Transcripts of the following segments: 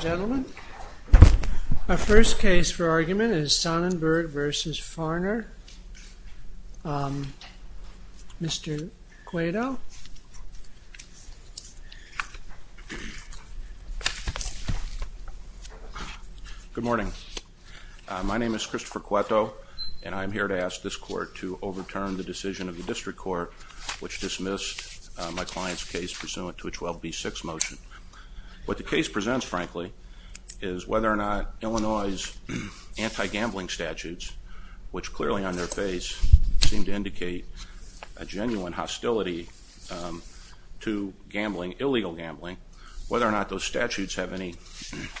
Gentlemen, our first case for argument is Sonnenberg vs. Farner, Mr. Cueto. Good morning. My name is Christopher Cueto and I'm here to ask this court to overturn the decision of the district court which dismissed my client's case pursuant to a 12B6 motion. What the case presents, frankly, is whether or not Illinois' anti-gambling statutes, which clearly on their face seem to indicate a genuine hostility to gambling, illegal gambling, whether or not those statutes have any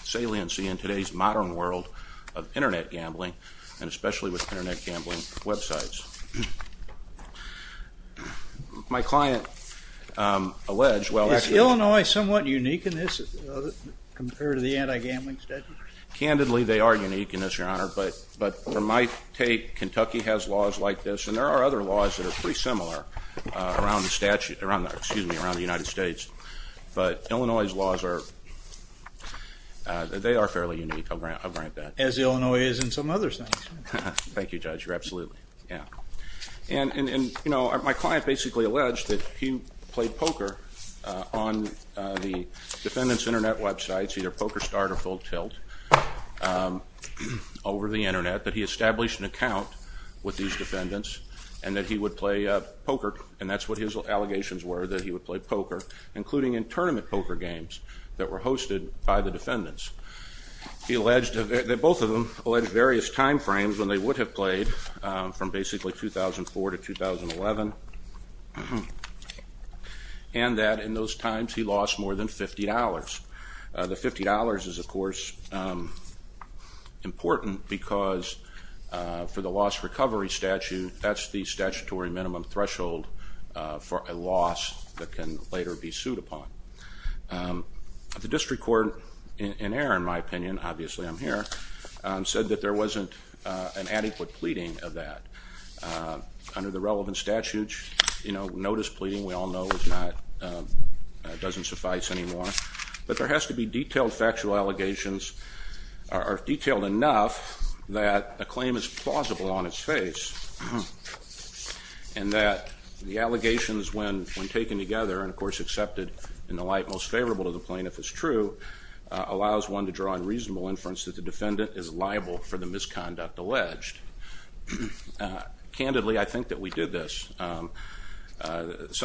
saliency in today's modern world of internet gambling and especially with internet gambling websites. Is Illinois somewhat unique in this compared to the anti-gambling statute? Candidly, they are unique in this, your honor, but from my take, Kentucky has laws like this and there are other laws that are pretty similar around the United States, but Illinois' laws are fairly unique, I'll grant that. As Illinois is in some other states. Thank you, Judge, absolutely. My client basically alleged that he played poker on the defendant's internet websites, either Poker Start or Full Tilt, over the internet, that he established an account with these defendants and that he would play poker, and that's what his allegations were, that he would play poker, including in tournament poker games that were hosted by the defendants. He alleged, both of them, alleged various time frames when they would have played, from basically 2004 to 2011, and that in those times he lost more than $50. The $50 is, of course, important because for the loss recovery statute, that's the statutory minimum threshold for a loss that can later be sued upon. The district court, in error in my opinion, obviously I'm here, said that there wasn't an adequate pleading of that. Under the relevant statute, notice pleading, we all know, doesn't suffice anymore. But there has to be detailed factual allegations, or detailed enough that a claim is plausible on its face, and that the allegations when taken together, and of course accepted in the light most favorable to the plaintiff is true, allows one to draw on reasonable inference that the defendant is liable for the misconduct alleged. Candidly, I think that we did this. Some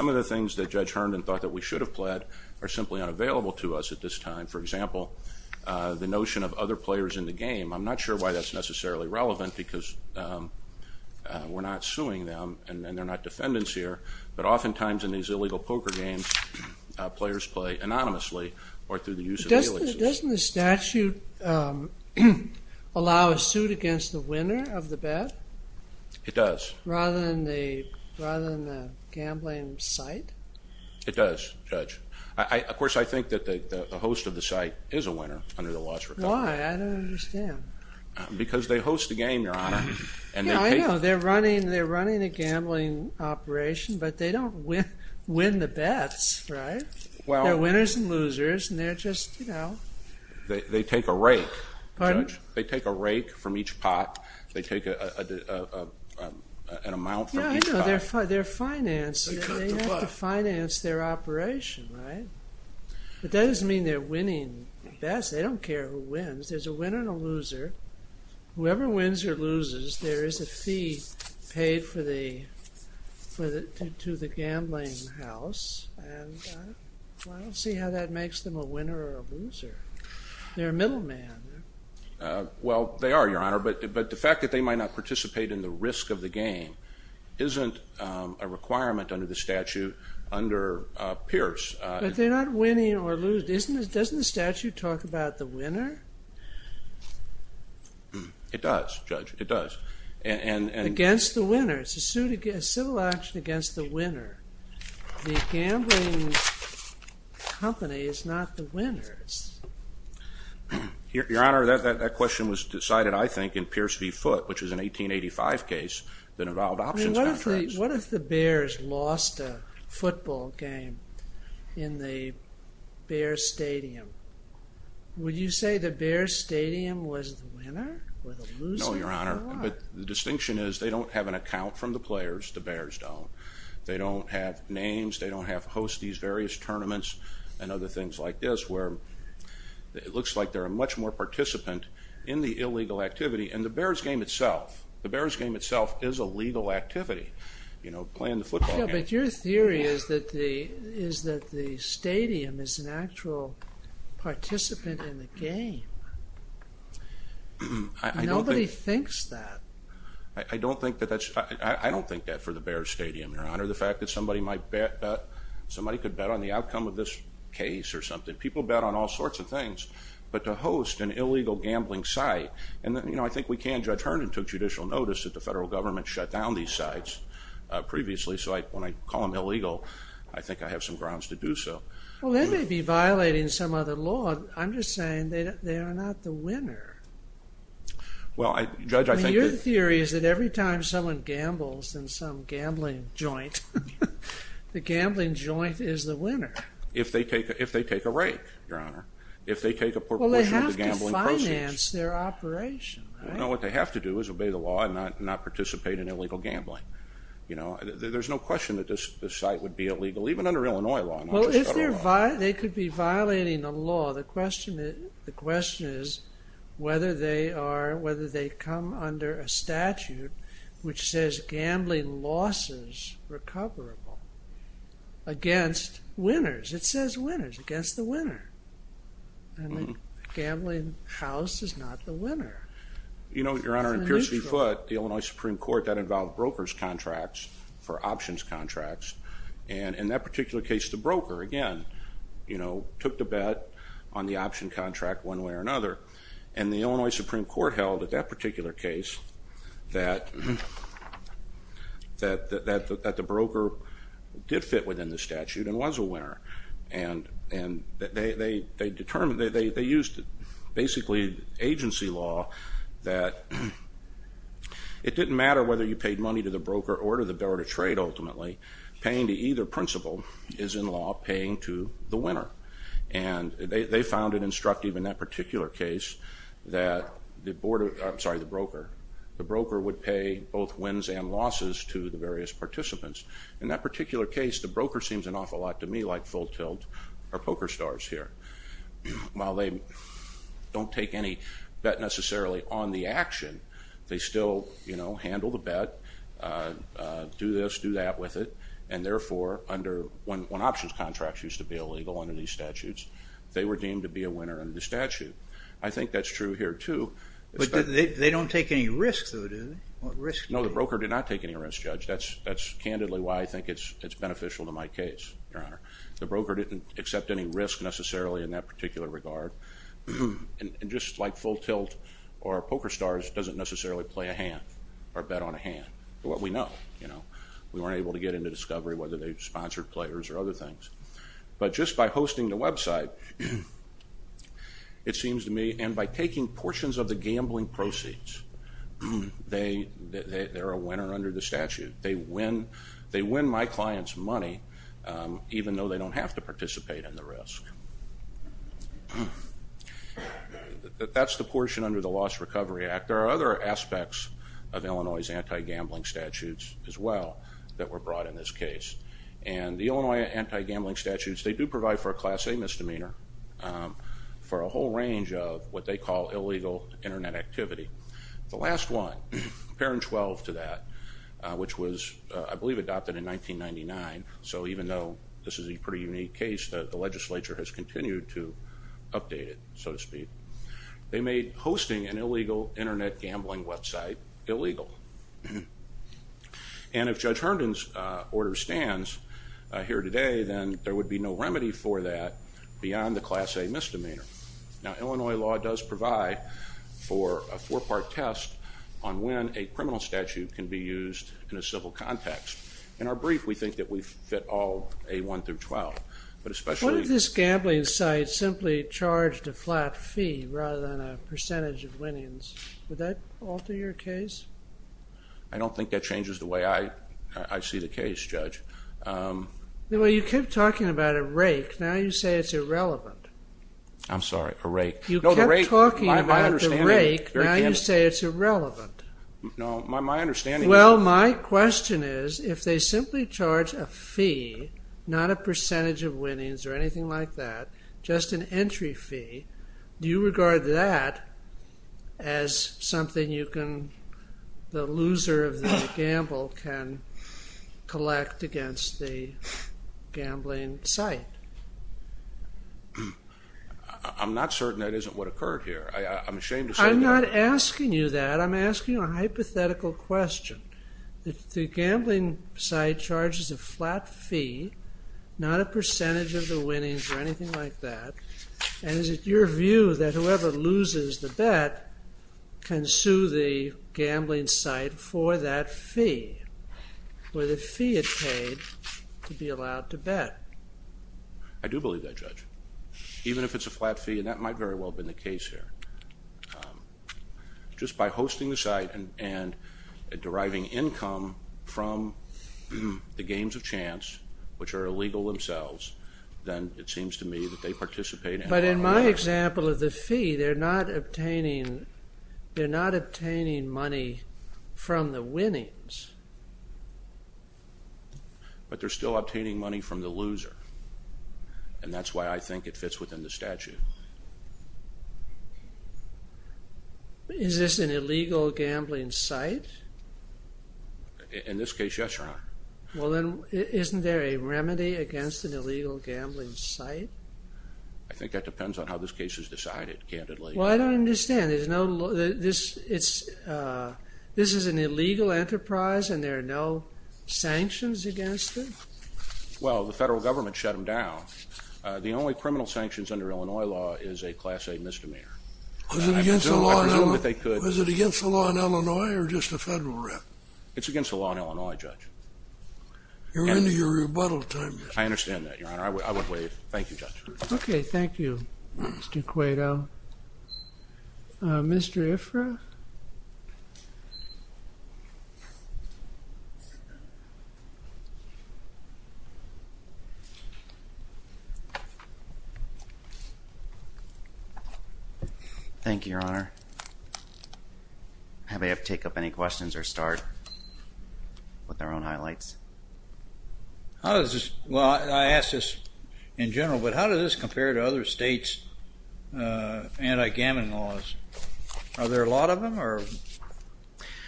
of the things that Judge Herndon thought that we should have pled are simply unavailable to us at this time. For example, the notion of other players in the game. I'm not sure why that's necessarily relevant because we're not suing them, and they're not defendants here, but oftentimes in these illegal poker games, players play anonymously or through the use of the elixir. Doesn't the statute allow a suit against the winner of the bet? It does. Rather than the gambling site? It does, Judge. Of course, I think that the host of the site is a winner under the laws of recovery. Why? I don't understand. Because they host the game, Your Honor. Yeah, I know. They're running a gambling operation, but they don't win the bets, right? They're winners and losers, and they're just, you know. They take a rake. Pardon? They take a rake from each pot. They take an amount from each pot. Yeah, I know. They're financing. They have to finance their operation, right? But that doesn't mean they're winning bets. They don't care who wins. There's a winner and a loser. Whoever wins or loses, there is a fee paid to the gambling house, and I don't see how that makes them a winner or a loser. They're a middleman. Well, they are, Your Honor, but the fact that they might not participate in the risk of the game isn't a requirement under the statute under Pierce. But they're not winning or losing. Doesn't the statute talk about the winner? It does, Judge. It does. Against the winner. It's a civil action against the winner. The gambling company is not the winner. Your Honor, that question was decided, I think, in Pierce v. Foote, which was an 1885 case that involved options contracts. What if the Bears lost a football game in the Bears stadium? Would you say the Bears stadium was the winner or the loser? No, Your Honor. But the distinction is they don't have an account from the players. The Bears don't. They don't have names. They don't host these various tournaments and other things like this where it looks like they're a much more participant in the illegal activity. And the Bears game itself is a legal activity, playing the football game. But your theory is that the stadium is an actual participant in the game. Nobody thinks that. I don't think that for the Bears stadium, Your Honor. The fact that somebody could bet on the outcome of this case or something. People bet on all sorts of things. But to host an illegal gambling site. I think we can. Judge Herndon took judicial notice that the federal government shut down these sites previously. So when I call them illegal, I think I have some grounds to do so. Well, they may be violating some other law. I'm just saying they are not the winner. Your theory is that every time someone gambles in some gambling joint, the gambling joint is the winner. If they take a rake, Your Honor. If they take a proportion of the gambling proceeds. Well, they have to finance their operation, right? No, what they have to do is obey the law and not participate in illegal gambling. There's no question that this site would be illegal, even under Illinois law, not just federal law. Well, if they could be violating the law, the question is whether they come under a statute which says gambling losses recoverable against winners. It says winners against the winner. And the gambling house is not the winner. Your Honor, in Pierce v. Foote, the Illinois Supreme Court, that involved brokers' contracts for options contracts. And in that particular case, the broker, again, took the bet on the option contract one way or another. And the Illinois Supreme Court held that that particular case, that the broker did fit within the statute and was a winner. And they used basically agency law that it didn't matter whether you paid money to the broker or to the bearer of trade, ultimately. Paying to either principal is in law paying to the winner. And they found it instructive in that particular case that the broker would pay both wins and losses to the various participants. In that particular case, the broker seems an awful lot to me like Full Tilt or Poker Stars here. While they don't take any bet necessarily on the action, they still handle the bet, do this, do that with it. And therefore, when options contracts used to be illegal under these statutes, they were deemed to be a winner under the statute. I think that's true here, too. But they don't take any risk, though, do they? No, the broker did not take any risk, Judge. That's candidly why I think it's beneficial to my case, Your Honor. The broker didn't accept any risk necessarily in that particular regard. And just like Full Tilt or Poker Stars doesn't necessarily play a hand or bet on a hand. But we know. We weren't able to get into discovery whether they sponsored players or other things. But just by hosting the website, it seems to me, and by taking portions of the gambling proceeds, they're a winner under the statute. They win my client's money, even though they don't have to participate in the risk. That's the portion under the Lost Recovery Act. There are other aspects of Illinois' anti-gambling statutes as well that were brought in this case. And the Illinois anti-gambling statutes, they do provide for a Class A misdemeanor, for a whole range of what they call illegal Internet activity. The last one, Parent 12 to that, which was, I believe, adopted in 1999. So even though this is a pretty unique case, the legislature has continued to update it, so to speak. They made hosting an illegal Internet gambling website illegal. And if Judge Herndon's order stands here today, then there would be no remedy for that beyond the Class A misdemeanor. Now, Illinois law does provide for a four-part test on when a criminal statute can be used in a civil context. In our brief, we think that we fit all A1 through 12. What if this gambling site simply charged a flat fee rather than a percentage of winnings? Would that alter your case? I don't think that changes the way I see the case, Judge. Well, you kept talking about a rake. Now you say it's irrelevant. I'm sorry, a rake. You kept talking about the rake. Now you say it's irrelevant. No, my understanding is... Well, my question is, if they simply charge a fee, not a percentage of winnings or anything like that, just an entry fee, do you regard that as something you can, the loser of the gamble can collect against the gambling site? I'm not certain that isn't what occurred here. I'm ashamed to say that. I'm not asking you that. I'm asking you a hypothetical question. The gambling site charges a flat fee, not a percentage of the winnings or anything like that, and is it your view that whoever loses the bet can sue the gambling site for that fee, for the fee it paid to be allowed to bet? I do believe that, Judge. Even if it's a flat fee, and that might very well have been the case here. Just by hosting the site and deriving income from the games of chance, which are illegal themselves, then it seems to me that they participate... But in my example of the fee, they're not obtaining money from the winnings. But they're still obtaining money from the loser, and that's why I think it fits within the statute. Is this an illegal gambling site? In this case, yes, Your Honor. Isn't there a remedy against an illegal gambling site? I think that depends on how this case is decided, candidly. Well, I don't understand. This is an illegal enterprise, and there are no sanctions against it? Well, the federal government shut them down. The only criminal sanctions under Illinois law is a Class A misdemeanor. Was it against the law in Illinois, or just the federal rep? It's against the law in Illinois, Judge. You're into your rebuttal time. I understand that, Your Honor. I would waive. Thank you, Judge. Okay, thank you, Mr. Cueto. Mr. Ifrah? Thank you, Your Honor. I may have to take up any questions or start with our own highlights. Well, I ask this in general, but how does this compare to other states' anti-gambling laws? Are there a lot of them?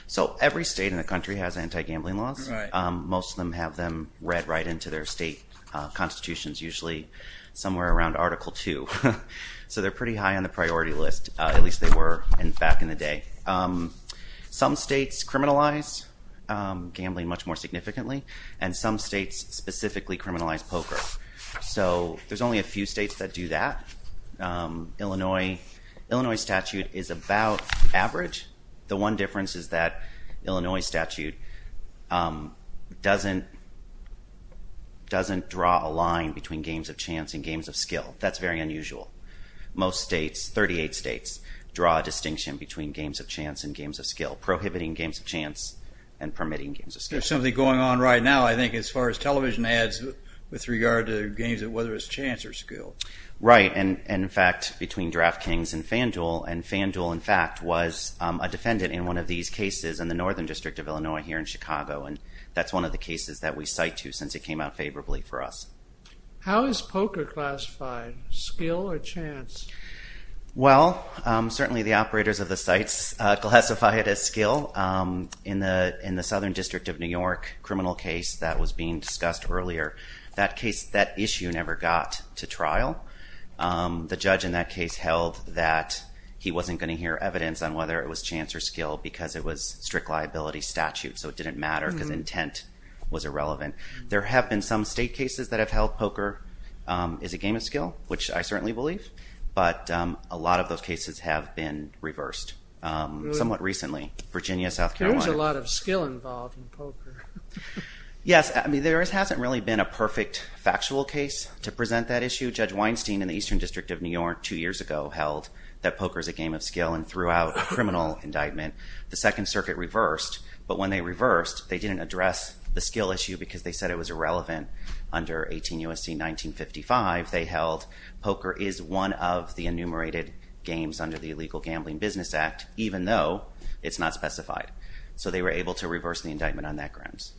So every state in the country has anti-gambling laws. Most of them have them read right into their state constitutions, usually somewhere around Article II. So they're pretty high on the priority list, at least they were back in the day. Some states criminalize gambling much more significantly, and some states specifically criminalize poker. So there's only a few states that do that. Illinois statute is about average. The one difference is that Illinois statute doesn't draw a line between games of chance and games of skill. That's very unusual. Most states, 38 states, draw a distinction between games of chance and games of skill, prohibiting games of chance and permitting games of skill. There's something going on right now, I think, as far as television ads with regard to games of whether it's chance or skill. Right, and in fact, between DraftKings and FanDuel, and FanDuel, in fact, was a defendant in one of these cases in the Northern District of Illinois here in Chicago, and that's one of the cases that we cite to since it came out favorably for us. How is poker classified, skill or chance? Well, certainly the operators of the sites classify it as skill. In the Southern District of New York criminal case that was being discussed earlier, that issue never got to trial. The judge in that case held that he wasn't going to hear evidence on whether it was chance or skill because it was strict liability statute, so it didn't matter because intent was irrelevant. There have been some state cases that have held poker is a game of skill, which I certainly believe, but a lot of those cases have been reversed somewhat recently. Virginia, South Carolina. There is a lot of skill involved in poker. Yes, I mean, there hasn't really been a perfect factual case to present that issue. Judge Weinstein in the Eastern District of New York two years ago held that poker is a game of skill and threw out a criminal indictment. The Second Circuit reversed, but when they reversed, they didn't address the skill issue because they said it was irrelevant. Under 18 U.S.C. 1955, they held poker is one of the enumerated games under the Illegal Gambling Business Act, even though it's not specified. So they were able to reverse the indictment on that grounds.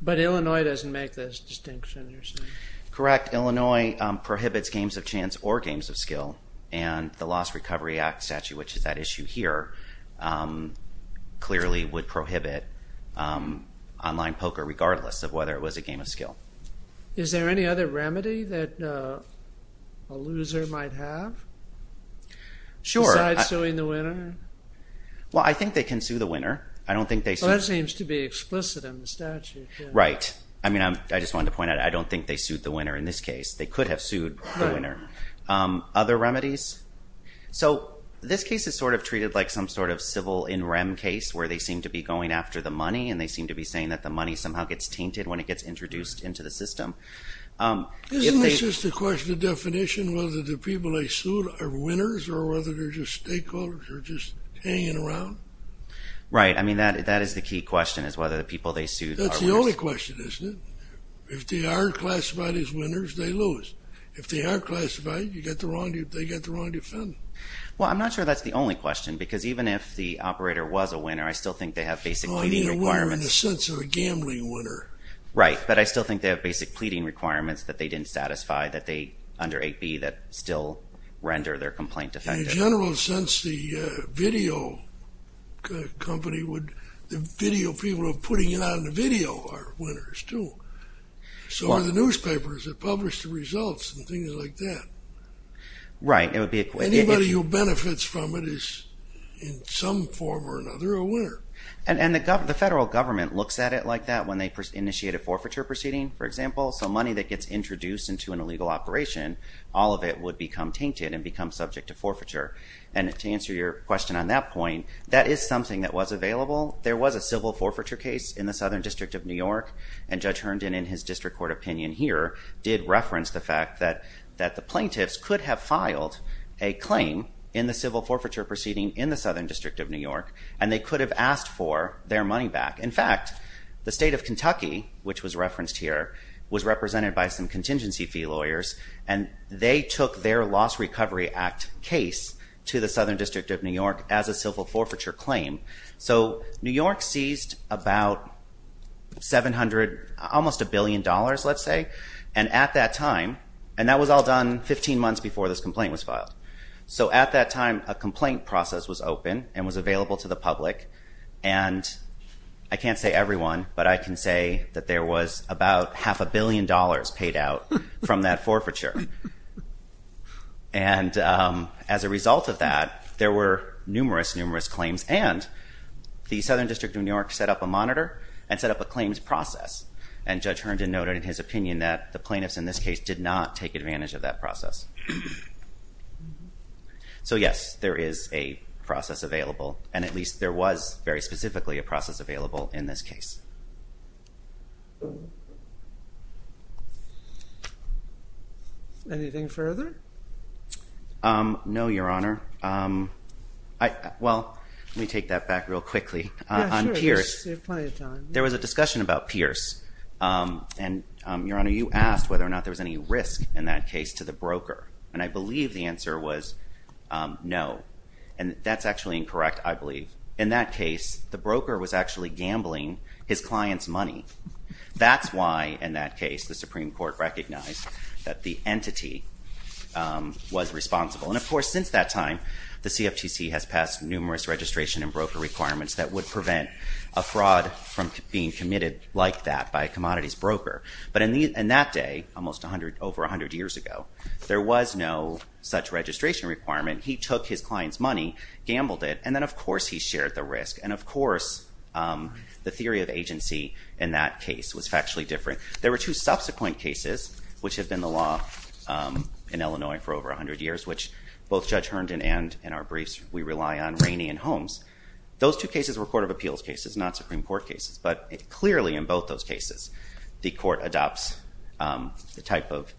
But Illinois doesn't make this distinction, you're saying? Correct. Illinois prohibits games of chance or games of skill, and the Lost Recovery Act statute, which is that issue here, clearly would prohibit online poker, regardless of whether it was a game of skill. Is there any other remedy that a loser might have? Sure. Besides suing the winner? Well, I think they can sue the winner. I don't think they sued... Well, that seems to be explicit in the statute. Right. I mean, I just wanted to point out I don't think they sued the winner in this case. They could have sued the winner. Other remedies? So this case is sort of treated like some sort of civil in rem case where they seem to be going after the money, and they seem to be saying that the money somehow gets tainted when it gets introduced into the system. Isn't this just a question of definition, whether the people they sued are winners or whether they're just stakeholders or just hanging around? Right. I mean, that is the key question is whether the people they sued are winners. That's the only question, isn't it? If they are classified as winners, they lose. If they are classified, they get the wrong defendant. Well, I'm not sure that's the only question because even if the operator was a winner, I still think they have basic competing requirements. In the sense of a gambling winner. Right. But I still think they have basic pleading requirements that they didn't satisfy that they, under 8b, that still render their complaint defective. In a general sense, the video company would, the video people who are putting it on the video are winners, too. So are the newspapers that publish the results and things like that. Right. Anybody who benefits from it is, in some form or another, a winner. And the federal government looks at it like that when they initiate a forfeiture proceeding, for example. So money that gets introduced into an illegal operation, all of it would become tainted and become subject to forfeiture. And to answer your question on that point, that is something that was available. There was a civil forfeiture case in the Southern District of New York, and Judge Herndon, in his district court opinion here, did reference the fact that the plaintiffs could have filed a claim in the civil forfeiture proceeding in the Southern District of New York, and they could have asked for their money back. In fact, the state of Kentucky, which was referenced here, was represented by some contingency fee lawyers, and they took their Lost Recovery Act case to the Southern District of New York as a civil forfeiture claim. So New York seized about 700, almost a billion dollars, let's say. And at that time, and that was all done 15 months before this complaint was filed. So at that time, a complaint process was open and was available to the public. And I can't say everyone, but I can say that there was about half a billion dollars paid out from that forfeiture. And as a result of that, there were numerous, numerous claims. And the Southern District of New York set up a monitor and set up a claims process. And Judge Herndon noted in his opinion that the plaintiffs in this case did not take advantage of that process. So yes, there is a process available, and at least there was very specifically a process available in this case. Anything further? No, Your Honor. Well, let me take that back real quickly. On Pierce. You have plenty of time. There was a discussion about Pierce. And Your Honor, you asked whether or not there was any risk in that case to the broker. And I believe the answer was no. And that's actually incorrect, I believe. In that case, the broker was actually gambling his client's money. That's why, in that case, the Supreme Court recognized that the entity was responsible. And of course, since that time, the CFTC has passed numerous registration and broker requirements that would prevent a fraud from being committed like that by a commodities broker. But in that day, almost over 100 years ago, there was no such registration requirement. He took his client's money, gambled it, and then of course he shared the risk. And of course, the theory of agency in that case was factually different. There were two subsequent cases, which have been the law in Illinois for over 100 years, which both Judge Herndon and, in our briefs, we rely on Rainey and Holmes. Those two cases were court of appeals cases, not Supreme Court cases. But clearly, in both those cases, the court adopts the type of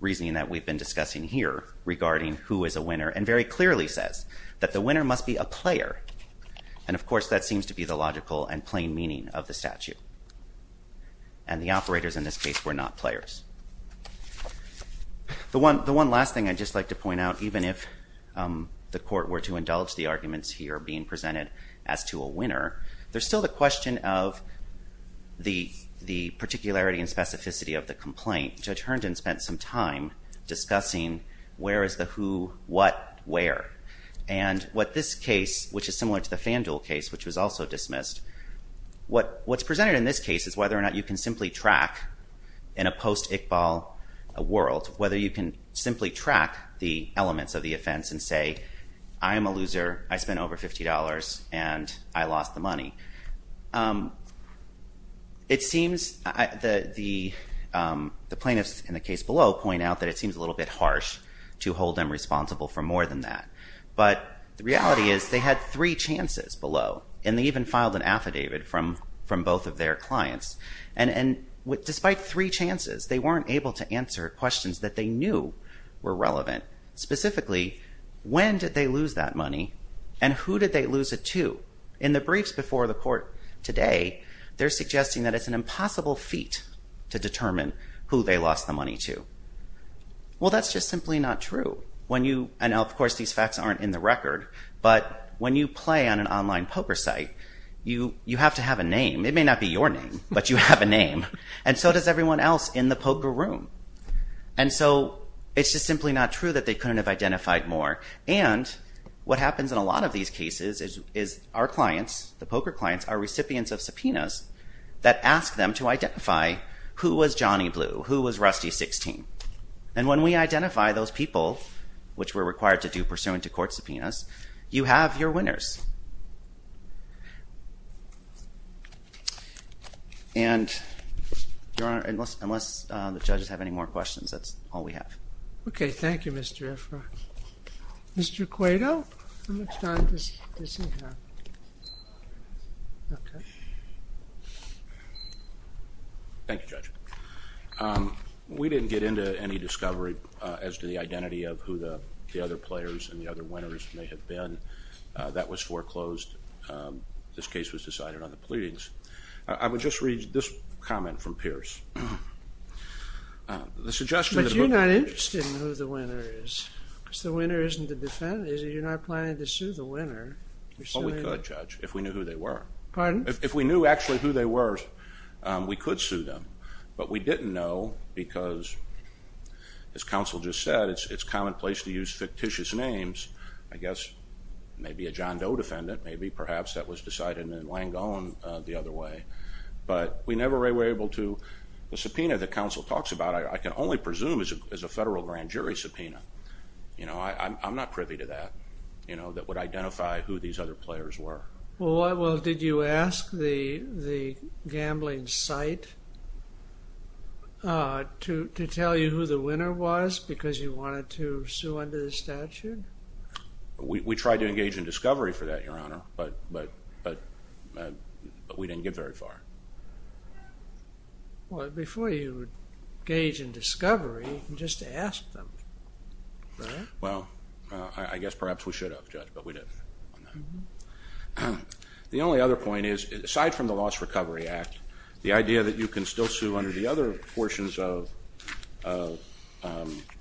reasoning that we've been discussing here regarding who is a winner, and very clearly says that the winner must be a player. And of course, that seems to be the logical and plain meaning of the statute. And the operators in this case were not players. The one last thing I'd just like to point out, even if the court were to indulge the arguments here being presented as to a winner, there's the particularity and specificity of the complaint. Judge Herndon spent some time discussing where is the who, what, where. And what this case, which is similar to the FanDuel case, which was also dismissed, what's presented in this case is whether or not you can simply track, in a post-Iqbal world, whether you can simply track the elements of the offense and say, I am a loser, I spent over $50, and I lost the money. It seems the plaintiffs in the case below point out that it seems a little bit harsh to hold them responsible for more than that. But the reality is they had three chances below. And they even filed an affidavit from both of their clients. And despite three chances, they weren't able to answer questions that they knew were relevant. Specifically, when did they lose that money, and who did they lose it to? In the briefs before the court today, they're suggesting that it's an impossible feat to determine who they lost the money to. Well, that's just simply not true. And of course, these facts aren't in the record. But when you play on an online poker site, you have to have a name. It may not be your name, but you have a name. And so does everyone else in the poker room. And so it's just simply not true that they couldn't have identified more. And what happens in a lot of these cases is our clients, the poker clients, are recipients of subpoenas that ask them to identify who was Johnny Blue, who was Rusty 16. And when we identify those people, which we're required to do pursuant to court subpoenas, you have your winners. And unless the judges have any more questions, that's all we have. OK, thank you, Mr. Ifrah. Mr. Quato? How much time does he have? OK. Thank you, Judge. We didn't get into any discovery as to the identity of who the other players and the other winners may have been. That was foreclosed. This case was decided on the pleadings. I would just read this comment from Pierce. The suggestion of the book is that you're not interested in who the winner is. If the winner isn't the defendant, you're not planning to sue the winner. Well, we could, Judge, if we knew who they were. Pardon? If we knew actually who they were, we could sue them. But we didn't know because, as counsel just said, it's commonplace to use fictitious names. I guess maybe a John Doe defendant. Maybe, perhaps, that was decided in Langone the other way. But we never were able to. The subpoena that counsel talks about, which I can only presume is a federal grand jury subpoena, I'm not privy to that, that would identify who these other players were. Well, did you ask the gambling site to tell you who the winner was because you wanted to sue under the statute? We tried to engage in discovery for that, Your Honor. But we didn't get very far. Well, before you engage in discovery, you can just ask them, right? Well, I guess perhaps we should have, Judge, but we didn't. The only other point is, aside from the Lost Recovery Act, the idea that you can still sue under the other portions of the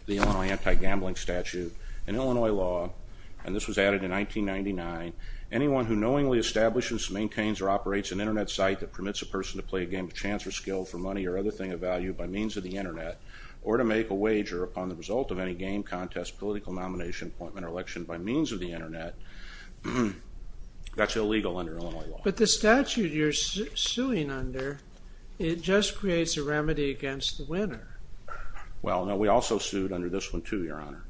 Illinois anti-gambling statute, in Illinois law, and this was added in 1999, anyone who knowingly establishes, maintains, or operates an internet site that permits a person to play a game of chance or skill for money or other thing of value by means of the internet or to make a wager upon the result of any game, contest, political nomination, appointment, or election by means of the internet, that's illegal under Illinois law. But the statute you're suing under, it just creates a remedy against the winner. Well, no, we also sued under this one, too, Your Honor,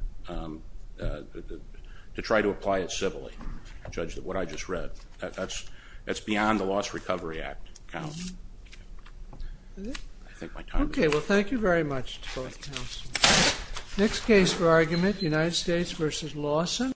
to try to apply it civilly, Judge, what I just read. That's beyond the Lost Recovery Act, counsel. I think my time is up. Okay, well, thank you very much to both counsels. Next case for argument, United States v. Lawson.